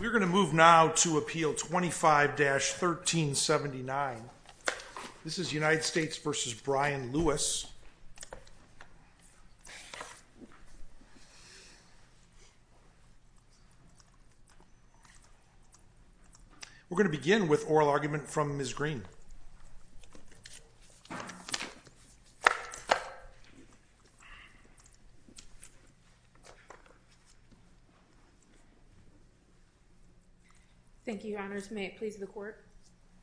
We're going to move now to Appeal 25-1379. This is United States v. Brian Lewis We're going to begin with Oral Argument from Ms. Green. Thank you, Your Honors, may it please the Court,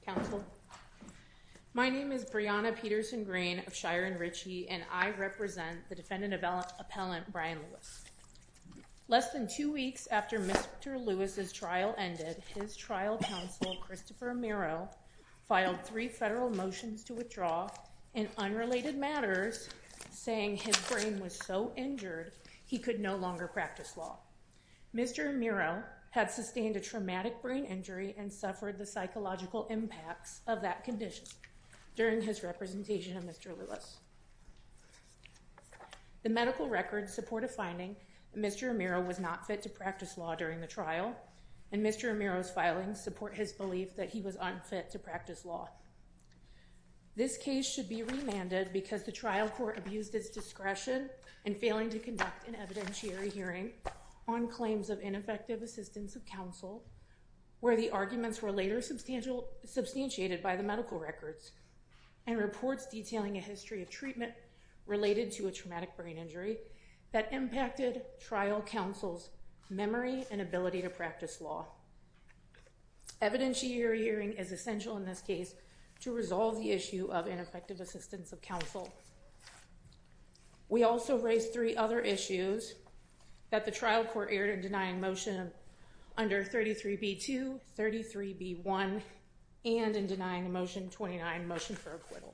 Counsel. My name is Brianna Peterson-Green of Shire and Ritchie, and I represent the Defendant Appellant Brian Lewis. Less than two weeks after Mr. Lewis' trial ended, his trial counsel, Christopher Amaro, filed three federal motions to withdraw in unrelated matters, saying his brain was so injured he could no longer practice law. Mr. Amaro had sustained a traumatic brain injury and suffered the psychological impacts of that condition during his representation of Mr. Lewis. The medical records support a finding that Mr. Amaro was not fit to practice law during the trial, and Mr. Amaro's filings support his belief that he was unfit to practice law. This case should be remanded because the trial court abused its discretion in failing to conduct an evidentiary hearing on claims of ineffective assistance of counsel, where the arguments were later substantiated by the medical records and reports detailing a history of treatment related to a traumatic brain injury that impacted trial counsel's memory and ability to practice law. Evidentiary hearing is essential in this case to resolve the issue of ineffective assistance of counsel. We also raised three other issues that the trial court aired in denying motion under 33b2, 33b1, and in denying motion 29, motion for acquittal.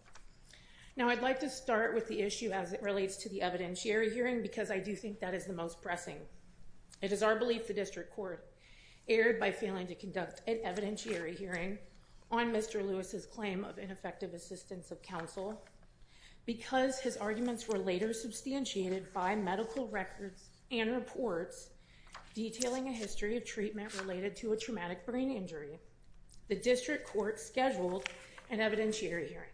Now I'd like to start with the issue as it relates to the evidentiary hearing because I do think that is the most pressing. It is our belief the district court aired by failing to conduct an evidentiary hearing on Mr. Lewis's claim of ineffective assistance of counsel, because his arguments were later substantiated by medical records and reports detailing a history of treatment related to a traumatic brain injury, the district court scheduled an evidentiary hearing.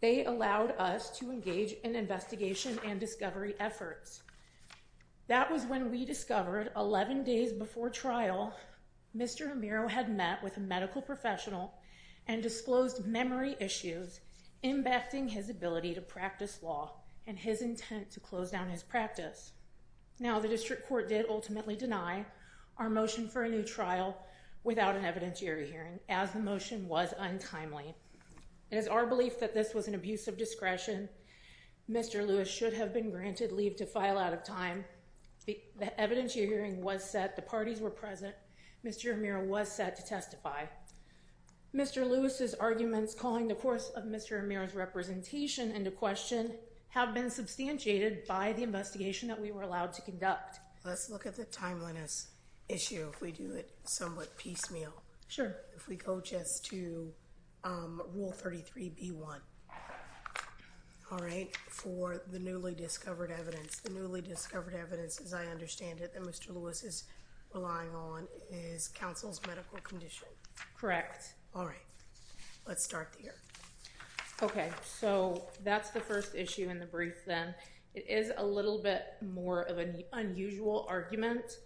They allowed us to engage in investigation and discovery efforts. That was when we discovered 11 days before trial, Mr. Amiro had met with a medical professional and disclosed memory issues impacting his ability to practice law and his intent to close down his practice. Now the district court did ultimately deny our motion for a new trial without an evidentiary hearing as the motion was untimely. It is our belief that this was an abuse of discretion, Mr. Lewis should have been granted leave to file out of time. The evidentiary hearing was set, the parties were present, Mr. Amiro was set to testify. Mr. Lewis's arguments calling the course of Mr. Amiro's representation into question have been substantiated by the investigation that we were allowed to conduct. Let's look at the timeliness issue if we do it somewhat piecemeal. Sure. But if we go just to rule 33b-1, all right, for the newly discovered evidence, the newly discovered evidence as I understand it that Mr. Lewis is relying on is counsel's medical condition. Correct. All right. Let's start here. Okay. So that's the first issue in the brief then. It is a little bit more of an unusual argument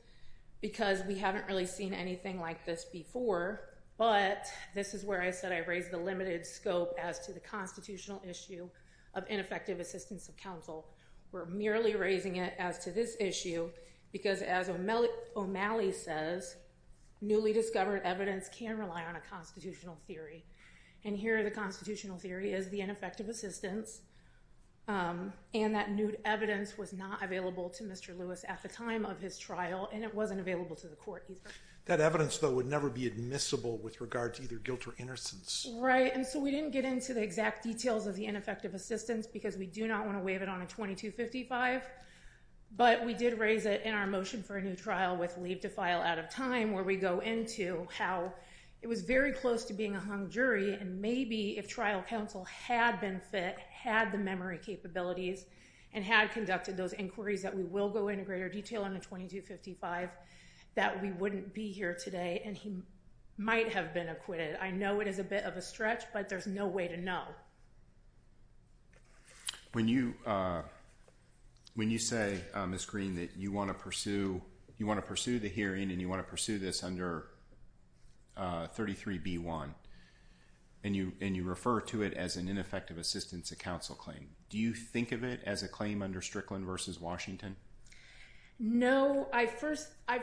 because we haven't really seen anything like this before, but this is where I said I raised the limited scope as to the constitutional issue of ineffective assistance of counsel. We're merely raising it as to this issue because as O'Malley says, newly discovered evidence can rely on a constitutional theory. And here the constitutional theory is the ineffective assistance and that new evidence was not available to Mr. Lewis at the time of his trial and it wasn't available to the court either. That evidence though would never be admissible with regard to either guilt or innocence. And so we didn't get into the exact details of the ineffective assistance because we do not want to waive it on a 2255, but we did raise it in our motion for a new trial with leave to file out of time where we go into how it was very close to being a hung jury and maybe if trial counsel had been fit, had the memory capabilities and had conducted those inquiries that we will go into greater detail on a 2255 that we wouldn't be here today and he might have been acquitted. I know it is a bit of a stretch, but there's no way to know. When you say, Ms. Green, that you want to pursue the hearing and you want to pursue this under 33B1 and you refer to it as an ineffective assistance of counsel claim, do you think of it as a claim under Strickland v. Washington? No, I first, I,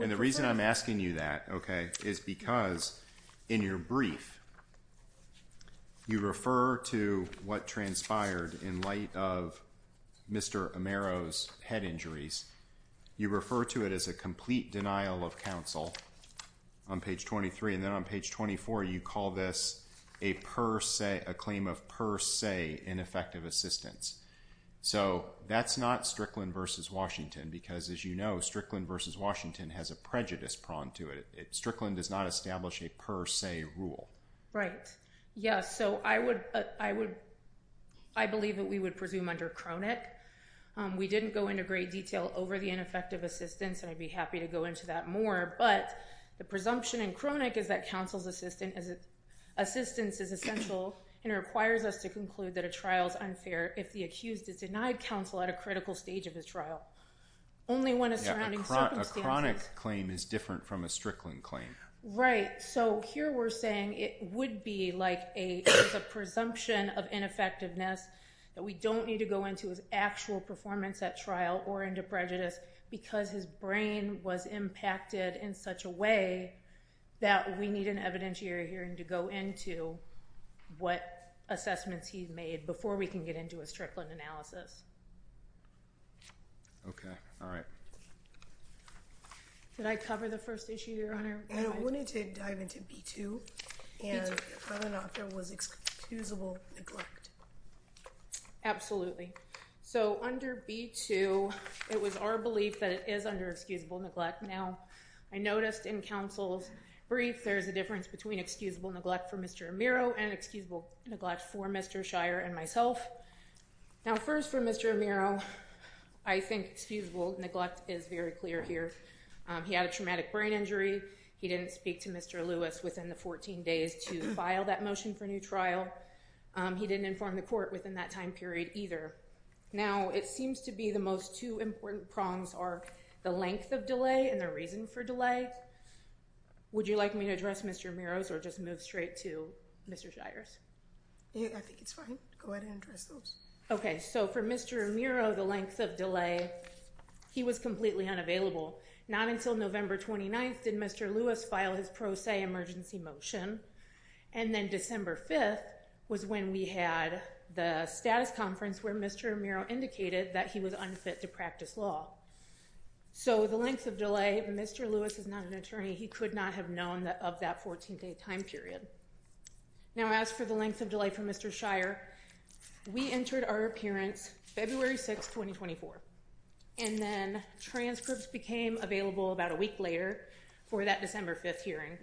and the reason I'm asking you that, okay, is because in your brief, you refer to what transpired in light of Mr. Amaro's head injuries. You refer to it as a complete denial of counsel on page 23 and then on page 24, you call this a per se, a claim of per se ineffective assistance. So that's not Strickland v. Washington because as you know, Strickland v. Washington has a prejudice prong to it. Strickland does not establish a per se rule. Right. Yes. So I would, I believe that we would presume under Cronick. We didn't go into great detail over the ineffective assistance and I'd be happy to go into that more. But the presumption in Cronick is that counsel's assistance is essential and it requires us to conclude that a trial is unfair if the accused is denied counsel at a critical stage of his trial. Only when a surrounding circumstances. Yeah, a Cronick claim is different from a Strickland claim. Right. So here we're saying it would be like a presumption of ineffectiveness that we don't need to go into his actual performance at trial or into prejudice because his brain was impacted in such a way that we need an evidentiary hearing to go into what assessments he's made before we can get into a Strickland analysis. Okay. All right. Did I cover the first issue your honor? I wanted to dive into B-2 and whether or not there was excusable neglect. Absolutely. So under B-2, it was our belief that it is under excusable neglect. Now I noticed in counsel's brief, there's a difference between excusable neglect for Mr. Amiro and excusable neglect for Mr. Shire and myself. Now first for Mr. Amiro, I think excusable neglect is very clear here. He had a traumatic brain injury. He didn't speak to Mr. Lewis within the 14 days to file that motion for new trial. He didn't inform the court within that time period either. Now it seems to be the most two important prongs are the length of delay and the reason for delay. Would you like me to address Mr. Amiro's or just move straight to Mr. Shire's? I think it's fine. Go ahead and address those. Okay. So for Mr. Amiro, the length of delay, he was completely unavailable. Not until November 29th did Mr. Lewis file his pro se emergency motion. And then December 5th was when we had the status conference where Mr. Amiro indicated that he was unfit to practice law. So the length of delay, Mr. Lewis is not an attorney. He could not have known that of that 14 day time period. Now as for the length of delay for Mr. Shire, we entered our appearance February 6th, 2024. And then transcripts became available about a week later for that December 5th hearing.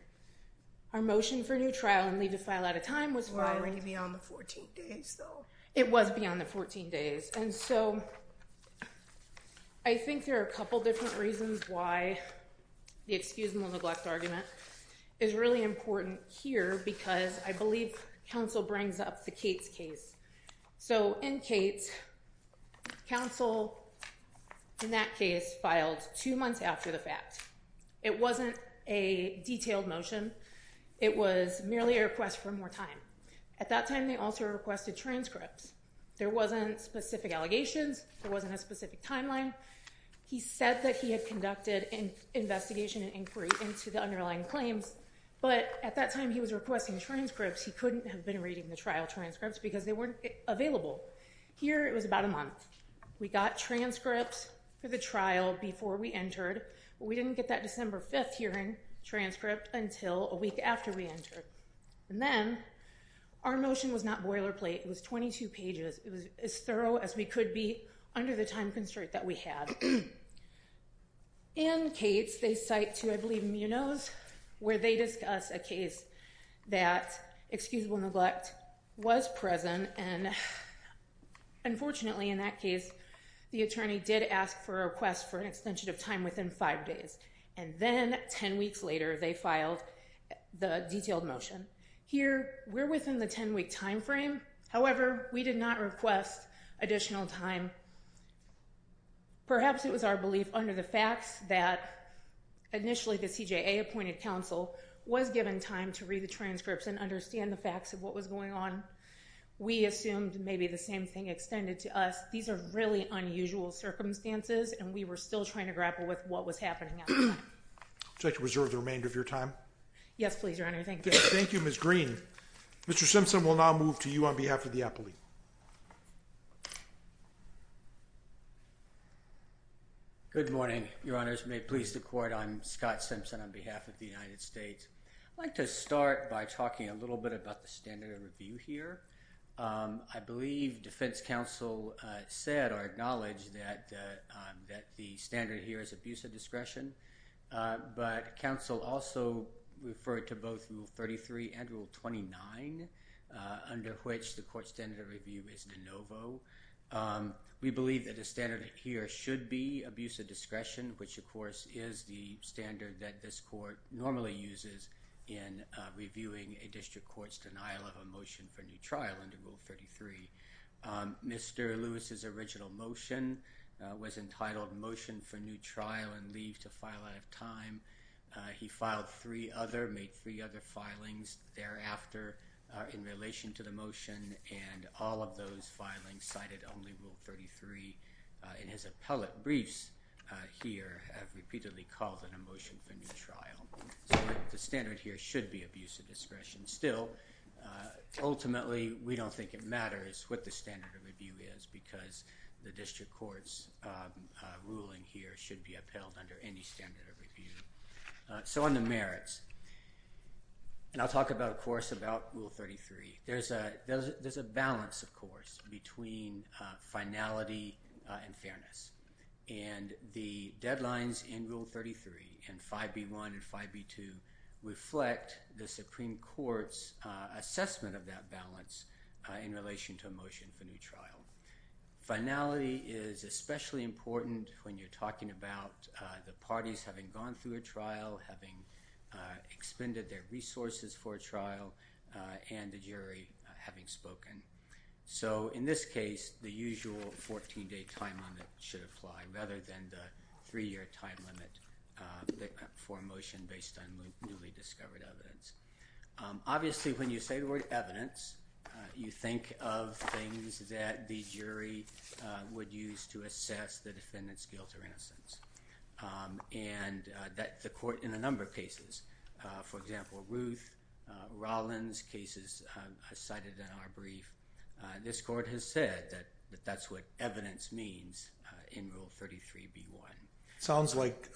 Our motion for new trial and leave to file at a time was filed. Well, it was beyond the 14 days though. It was beyond the 14 days. And so I think there are a couple different reasons why the excuse and the neglect argument is really important here because I believe counsel brings up the Cates case. So in Cates, counsel in that case filed two months after the fact. It wasn't a detailed motion. It was merely a request for more time. At that time, they also requested transcripts. There wasn't specific allegations, there wasn't a specific timeline. He said that he had conducted an investigation and inquiry into the underlying claims. But at that time, he was requesting transcripts. He couldn't have been reading the trial transcripts because they weren't available. Here it was about a month. We got transcripts for the trial before we entered. We didn't get that December 5th hearing transcript until a week after we entered. And then, our motion was not boilerplate. It was 22 pages. It was as thorough as we could be under the time constraint that we had. In Cates, they cite two, I believe, munos where they discuss a case that excusable neglect was present and unfortunately, in that case, the attorney did ask for a request for an additional five days. And then, ten weeks later, they filed the detailed motion. Here, we're within the ten-week time frame. However, we did not request additional time. Perhaps it was our belief under the facts that initially, the CJA appointed counsel was given time to read the transcripts and understand the facts of what was going on. We assumed maybe the same thing extended to us. These are really unusual circumstances and we were still trying to grapple with what was happening at the time. Would you like to reserve the remainder of your time? Yes, please, Your Honor. Thank you. Thank you, Ms. Green. Mr. Simpson will now move to you on behalf of the appellee. Good morning, Your Honors. May it please the Court. I'm Scott Simpson on behalf of the United States. I'd like to start by talking a little bit about the standard of review here. I believe defense counsel said or acknowledged that the standard here is abuse of discretion. But counsel also referred to both Rule 33 and Rule 29, under which the court standard of review is de novo. We believe that the standard here should be abuse of discretion, which, of course, is the standard that this court normally uses in reviewing a district court's denial of a motion for new trial under Rule 33. Mr. Lewis's original motion was entitled Motion for New Trial and Leave to File Out of Time. He filed three other, made three other filings thereafter in relation to the motion and all of those filings cited only Rule 33. And his appellate briefs here have repeatedly called it a motion for new trial. So the standard here should be abuse of discretion. Still, ultimately, we don't think it matters what the standard of review is because the district court's ruling here should be upheld under any standard of review. So on the merits, and I'll talk about, of course, about Rule 33. There's a balance, of course, between finality and fairness. And the deadlines in Rule 33 and 5B1 and 5B2 reflect the Supreme Court's assessment of that balance in relation to a motion for new trial. Finality is especially important when you're talking about the parties having gone through a trial, having expended their resources for a trial, and the jury having spoken. So in this case, the usual 14-day time limit should apply rather than the three-year time limit for a motion based on newly discovered evidence. Obviously, when you say the word evidence, you think of things that the jury would use to assess the defendant's guilt or innocence. And that the court, in a number of cases, for example, Ruth Rollins' cases cited in our brief, this court has said that that's what evidence means in Rule 33B1. It sounds like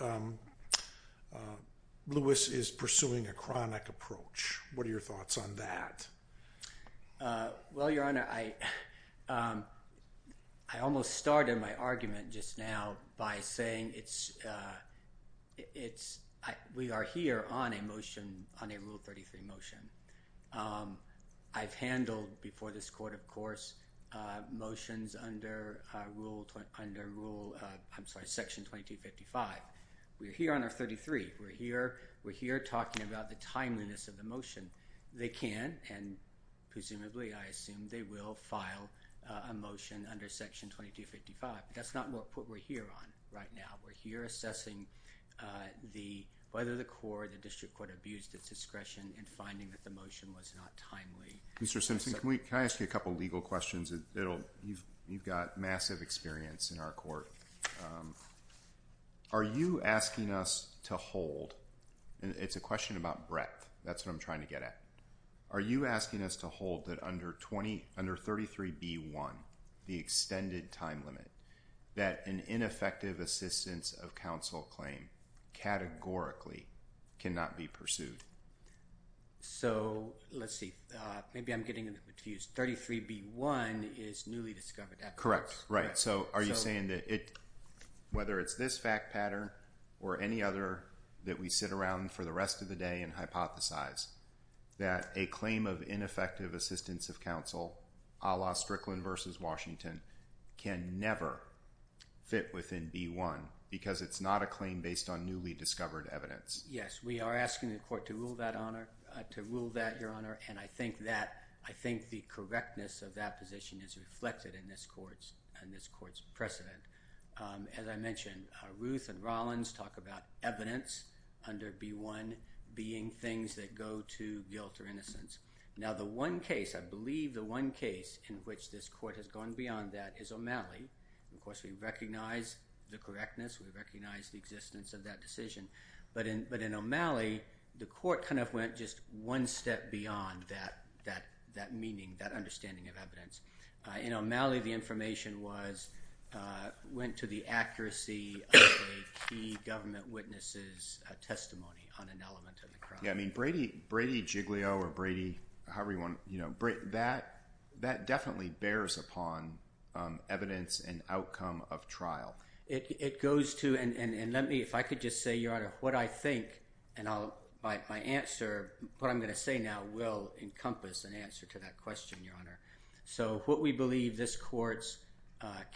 Lewis is pursuing a chronic approach. What are your thoughts on that? Well, Your Honor, I almost started my argument just now by saying we are here on a Rule 33 motion. I've handled before this court, of course, motions under Section 2255. We're here on our 33. We're here talking about the timeliness of the motion. They can, and presumably, I assume, they will file a motion under Section 2255. That's not what we're here on right now. We're here assessing whether the court, the district court, abused its discretion in finding that the motion was not timely. Mr. Simpson, can I ask you a couple legal questions? You've got massive experience in our court. Are you asking us to hold, and it's a question about breadth. That's what I'm trying to get at. Are you asking us to hold that under 33B1, the extended time limit, that an ineffective assistance of counsel claim categorically cannot be pursued? So, let's see. Maybe I'm getting confused. 33B1 is newly discovered evidence. Correct, right. So, are you saying that it, whether it's this fact pattern or any other that we sit around for the rest of the day and hypothesize that a claim of ineffective assistance of counsel, a la Strickland v. Washington, can never fit within B1 because it's not a claim based on newly discovered evidence? Yes. We are asking the court to rule that, Your Honor, and I think the correctness of that position is reflected in this court's precedent. As I mentioned, Ruth and Rollins talk about evidence under B1 being things that go to guilt or innocence. Now, the one case, I believe the one case, in which this court has gone beyond that is O'Malley. Of course, we recognize the correctness. We recognize the existence of that decision. But in O'Malley, the court kind of went just one step beyond that meaning, that understanding of evidence. In O'Malley, the information went to the accuracy of a key government witness' testimony on an element of the crime. Yeah, I mean, Brady Jiglio or Brady, however you want to, that definitely bears upon evidence and outcome of trial. It goes to, and let me, if I could just say, Your Honor, what I think, and my answer, what I'm going to say now will encompass an answer to that question, Your Honor. So what we believe this court's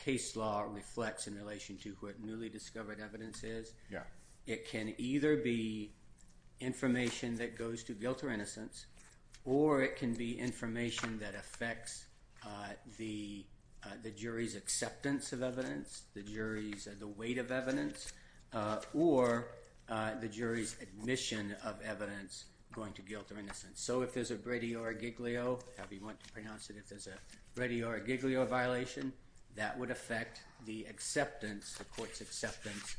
case law reflects in relation to what newly discovered evidence is, it can either be information that goes to guilt or innocence or it can be information that affects the jury's acceptance of evidence, the jury's weight of evidence, or the jury's admission of evidence going to guilt or innocence. So if there's a Brady or a Jiglio, however you want to pronounce it, if there's a Brady or a Jiglio violation, that would affect the acceptance, the court's acceptance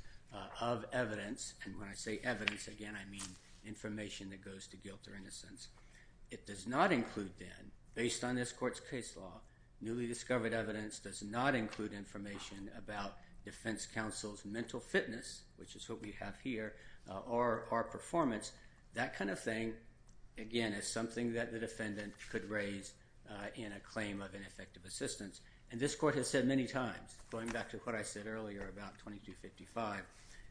of evidence. And when I say evidence, again, I mean information that goes to guilt or innocence. It does not include, then, based on this court's case law, newly discovered evidence does not include information about defense counsel's mental fitness, which is what we have here, or our performance. That kind of thing, again, is something that the defendant could raise in a claim of ineffective assistance. And this court has said many times, going back to what I said earlier about 2255,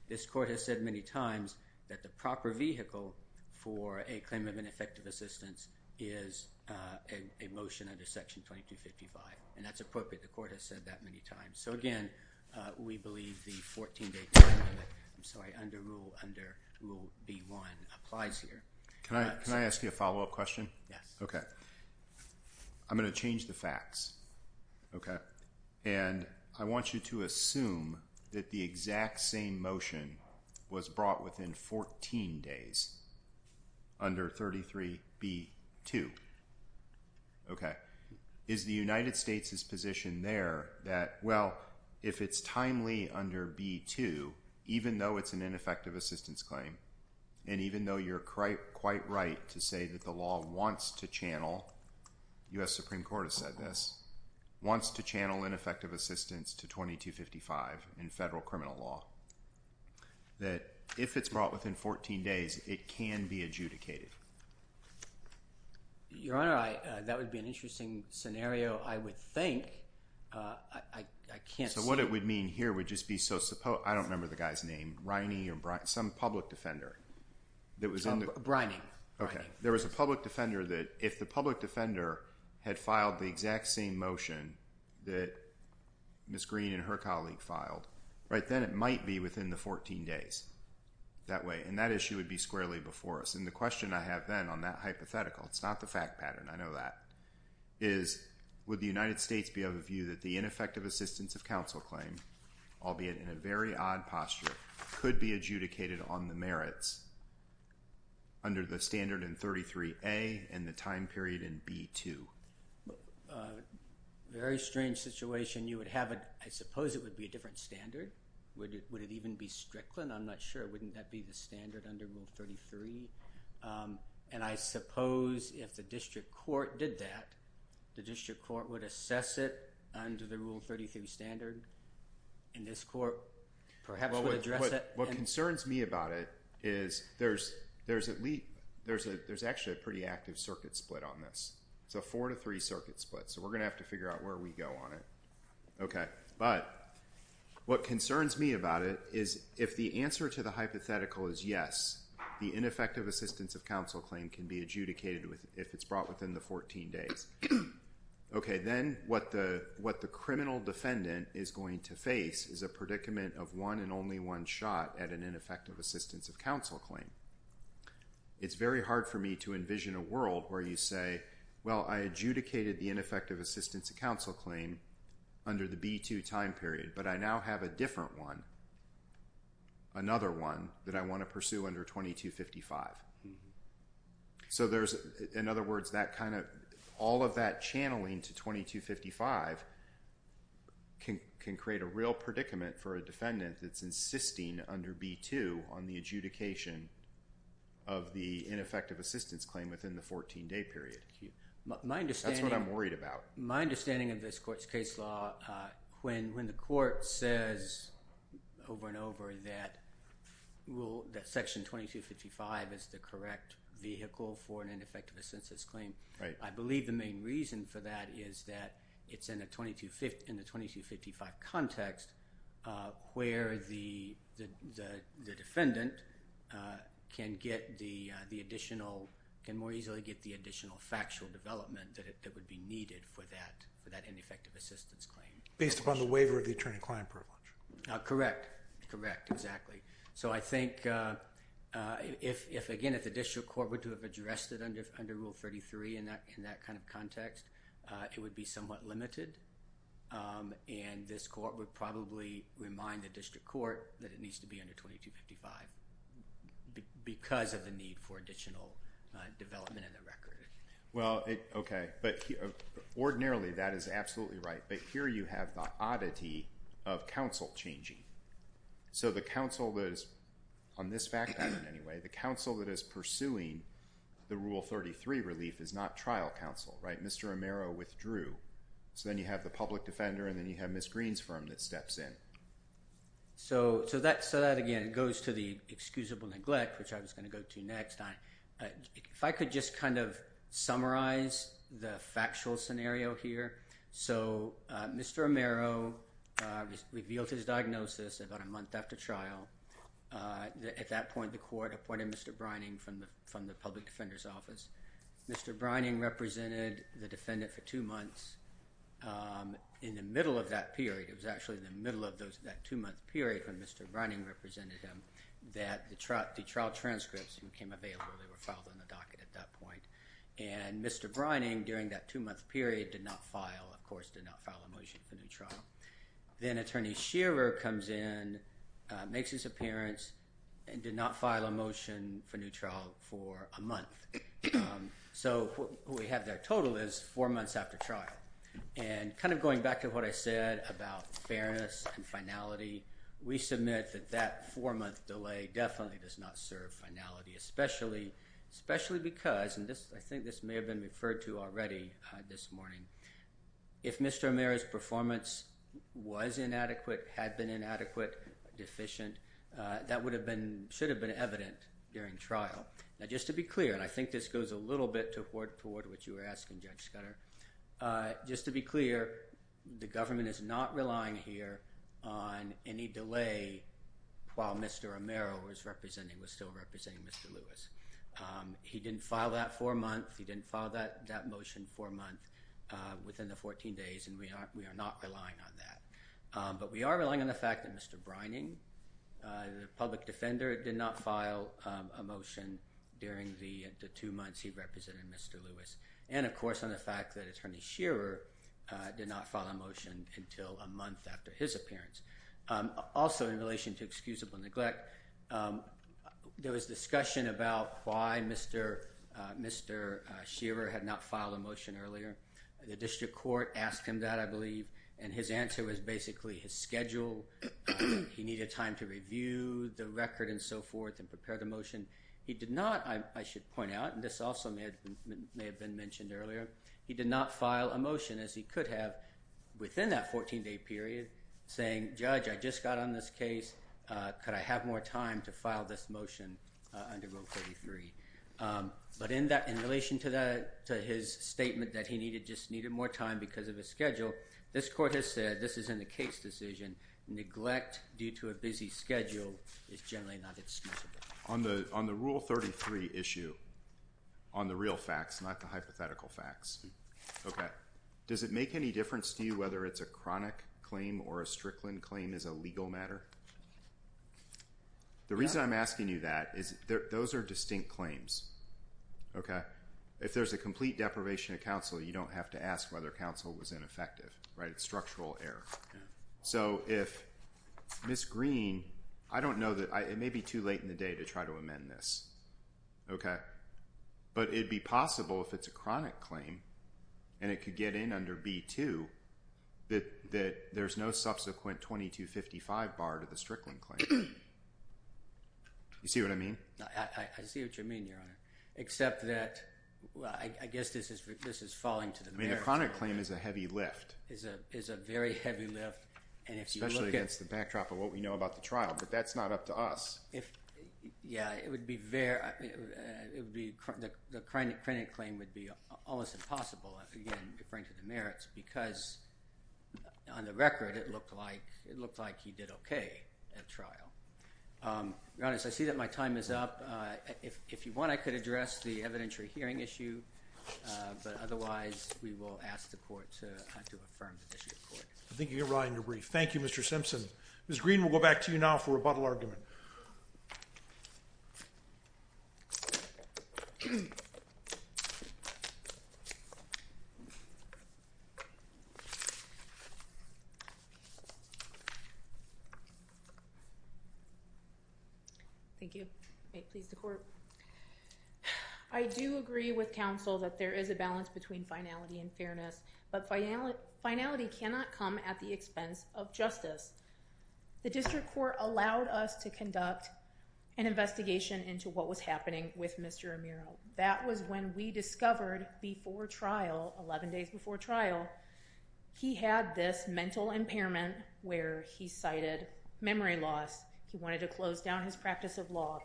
this court has said many times that the proper vehicle for a claim of ineffective assistance is a motion under Section 2255, and that's appropriate. That's what the court has said that many times. So again, we believe the 14-day time limit, I'm sorry, under Rule B-1 applies here. Can I ask you a follow-up question? Yes. Okay. I'm going to change the facts. Okay. And I want you to assume that the exact same motion was brought within 14 days, under 33B-2. Okay. Is the United States' position there that, well, if it's timely under B-2, even though it's an ineffective assistance claim, and even though you're quite right to say that the law wants to channel, U.S. Supreme Court has said this, wants to channel ineffective assistance to 2255 in federal criminal law, that if it's brought within 14 days, it can be adjudicated? Your Honor, that would be an interesting scenario. I would think. I can't see... So what it would mean here would just be so... I don't remember the guy's name, Reine or... some public defender that was in the... Reine. Okay. There was a public defender that, if the public defender had filed the exact same motion that Ms. Green and her colleague filed, right then it might be within the 14 days that way. And that issue would be squarely before us. And the question I have then on that hypothetical, it's not the fact pattern, I know that, is would the United States be of a view that the ineffective assistance of counsel claim, albeit in a very odd posture, could be adjudicated on the merits under the standard in 33A and the time period in B-2? Very strange situation. You would have a... I suppose it would be a different standard. Would it even be strickland? I'm not sure. Wouldn't that be the standard under Rule 33? And I suppose if the district court did that, the district court would assess it under the Rule 33 standard, and this court perhaps would address it... What concerns me about it is there's at least... there's actually a pretty active circuit split on this. It's a four to three circuit split. So we're going to have to figure out where we go on it. Okay. But what concerns me about it is if the answer to the hypothetical is yes, the ineffective assistance of counsel claim can be adjudicated if it's brought within the 14 days. Okay. Then what the criminal defendant is going to face is a predicament of one and only one shot at an ineffective assistance of counsel claim. It's very hard for me to envision a world where you say, well, I adjudicated the ineffective assistance of counsel claim under the B-2 time period, but I now have a different one, another one that I want to pursue under 2255. So there's... in other words, that kind of... all of that channeling to 2255 can create a real predicament for a defendant that's insisting under B-2 on the adjudication of the ineffective assistance claim within the 14-day period. My understanding... That's what I'm worried about. My understanding of this court's case law when the court says over and over that Section 2255 is the correct vehicle for an ineffective assistance claim. I believe the main reason for that is that it's in the 2255 context where the defendant can get the additional... can more easily get the additional factual development that would be needed for that ineffective assistance claim. Based upon the waiver of the attorney-client privilege. Correct. Correct, exactly. So I think if, again, if the district court would have addressed it under Rule 33 in that kind of context, it would be somewhat limited and this court would probably remind the district court that it needs to be under 2255 because of the need for additional development in the record. Well, okay. But ordinarily that is absolutely right. But here you have the oddity of counsel changing. So the counsel that is on this fact pattern anyway, the counsel that is pursuing the Rule 33 relief is not trial counsel, right? Mr. Romero withdrew. So then you have the public defender and then you have Ms. Green's firm that steps in. So that, again, goes to the excusable neglect which I was going to go to next. If I could just kind of summarize the factual scenario here. So Mr. Romero revealed his diagnosis about a month after trial. At that point, the court appointed Mr. Brining from the public defender's office. Mr. Brining represented the defendant for two months. In the middle of that period, it was actually in the middle of that two-month period when Mr. Brining represented him, that the trial transcripts became available. They were filed in the docket at that point. And Mr. Brining, during that two-month period, did not file, of course, did not file a motion for new trial. Then Attorney Shearer comes in, makes his appearance, and did not file a motion for new trial for a month. So what we have there total is four months after trial. And kind of going back to what I said about fairness and finality, we submit that that four-month delay definitely does not serve fairness and finality, especially because, and I think this may have been referred to already this morning, if Mr. Romero's performance was inadequate, had been inadequate, deficient, that should have been evident during trial. Now just to be clear, and I think this goes a little bit toward what you were asking, Judge Scudder, just to be clear, the government is not relying here on any delay while Mr. Romero was still representing Mr. Lewis. He didn't file that for a month, he didn't file that motion for a month within the 14 days, and we are not relying on that. But we are relying on the fact that Mr. Brining, the public defender, did not file a motion during the two months he represented Mr. Lewis. And of course on the fact that Attorney Shearer did not file a motion until a month after his appearance. Also in relation to excusable neglect, there was discussion about why Mr. Shearer had not filed a motion earlier. The district court asked him that I believe, and his answer was basically his schedule, he needed time to review the record and so forth and prepare the motion. He did not, I should point out, and this also may have been mentioned earlier, he did not file a motion as he could have within that 14 day period saying, Mr. President, Judge, I just got on this case, could I have more time to file this motion under Rule 33? But in relation to his statement that he just needed more time because of his schedule, this court has said, this is in the case decision, neglect due to a busy schedule is generally not excusable. On the Rule 33 issue, on the real facts not the hypothetical facts, does it make any difference to you whether it's a chronic claim or a Strickland claim as a legal matter? The reason I'm asking you that is those are distinct claims. If there's a complete deprivation of you don't have to ask whether counsel was ineffective. It's structural error. So if Ms. Green, I don't know, it may be too late in the day to try to amend this. Okay. But it would be possible if it's a chronic claim and it could get in under B2 that there's no subsequent 2255 bar to the Strickland claim. You see what I mean? I see what you mean, except that I guess this is falling to the merits. A chronic claim is a heavy lift. It's a yeah, it would be the chronic claim would be almost impossible because on the record it looked like he did okay at trial. I see that my time is up. If you want, I could address the evidentiary hearing issue. Otherwise we will ask the court to affirm the issue. I think you're right in your brief. Thank you, Mr. Simpson. Green will go back to you now for rebuttal argument. Thank you. Please the court. I do agree with counsel that there is a balance between finality and but by now finality cannot come at the expense of The district court allowed us to conduct an investigation into what was happening with Mr. That was when we discovered before trial 11 days before trial. He had this mental impairment where he cited memory loss. He wanted to close down his practice of law,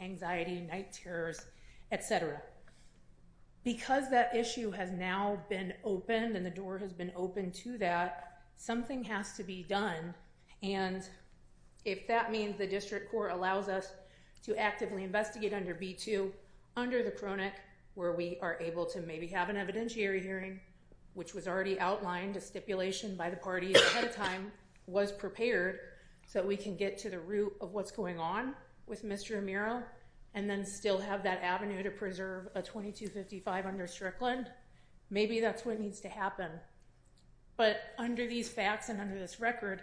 anxiety, night terrors, etc. Because that issue has now been opened and the door has been opened to that something has to be done and if that means the district court allows us to actively investigate under B2 under the chronic where we are able to maybe have an evidentiary hearing which was already outlined a stipulation by the party ahead of time was prepared so we can get to the root of what's going on with Mr. Amiro and then still have that avenue to preserve a 2255 under Strickland maybe that's what needs to happen but under these facts and under this record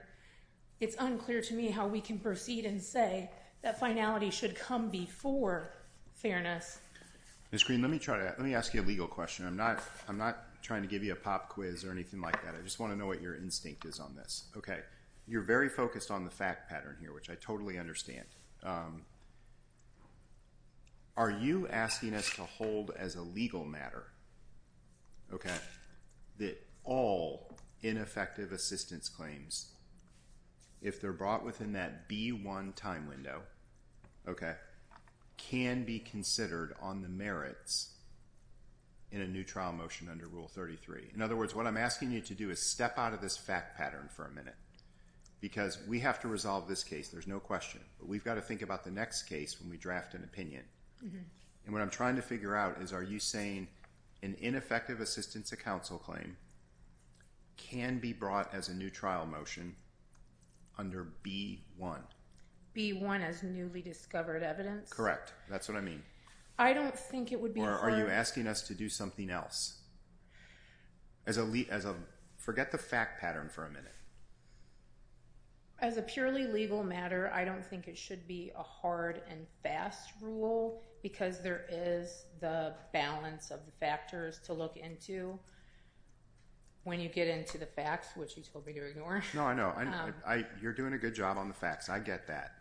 it's unclear to me how we can proceed and say that finality should come before fairness. Ms. Green, let me try to let me ask you a legal question. I'm not I'm not trying to give you a pop quiz or anything like that. I just want to know what your instinct is on this. Okay. You're very focused on the fact pattern here, which I totally understand. are you asking us to hold as a legal matter okay that all ineffective assistance claims if they're brought within that B1 time window okay can be considered on the merits in a new trial motion under Rule 33. In other words, what I'm asking you to do is step out of this fact pattern for a because we have to resolve this case there's no question but we've got to think about the next case when we draft an opinion and what I'm trying to figure out is are you saying an ineffective as a forget the fact pattern for a as a purely legal matter I don't think it should be a hard and fast rule because there is the balance of the factors to look into when you get into the facts which you told me to ignore no I know you're doing a good job on the facts I get that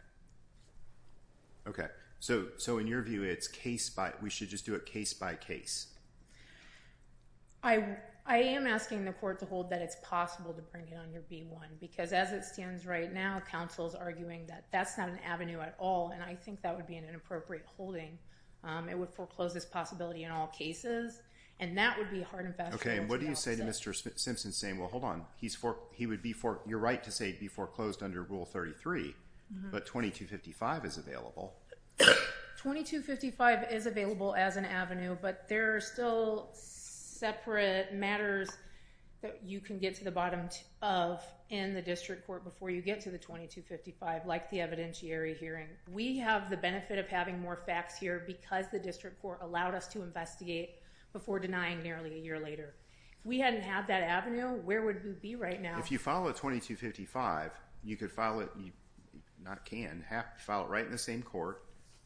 okay so in your view it's case by we should just do it case by case I am asking the court to hold that it's possible to bring it on your v1 because as it stands right now counsel is arguing that that's not an avenue at all and I think that would be an inappropriate holding it would foreclose this possibility in all cases and that would be hard and fast okay do you say to Mr. Simpson saying well hold on you're right to say it would be foreclosed under rule 33 but 2255 is available 2255 is available as an but there are still separate matters that you can get to the bottom of in the the hearing we have the benefit of having more facts here because the district court allowed us to investigate before denying nearly a year later we haven't had that avenue where would be right now if you follow 2255 you can file it right in the same court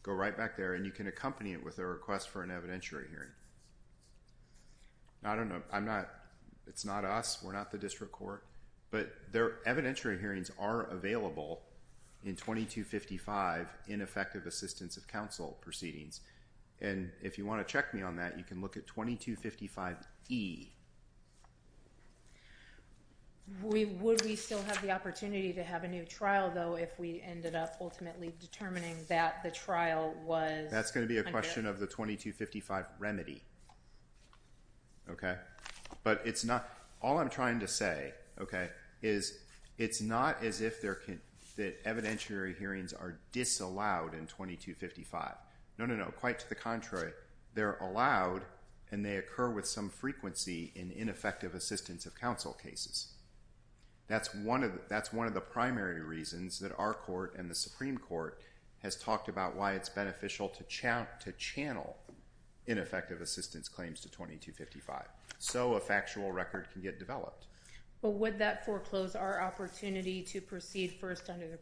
and you can accompany it with a request for an I don't know it's not us we're not the district court but evidentiary hearings are available in effective assistance of counsel proceedings and if you want to check me on that you can look at 2255 E. Would we still have the opportunity to have a new though if we ended up ultimately determining that the was in going to be a question of the 2255 remedy okay but it's not all I'm trying to say okay is it's not as if there can that evidentiary hearings are disallowed in 2255 no no if the going to have channel in effective assistance claims so a factual record can get developed would that foreclose our opportunity to proceed under the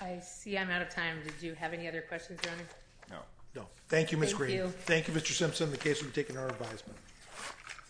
I see I'm out of time did you have any other questions for me? No. No. Thank you Ms. Green. Thank you. Mr. Simpson in the case we've taken our advisement.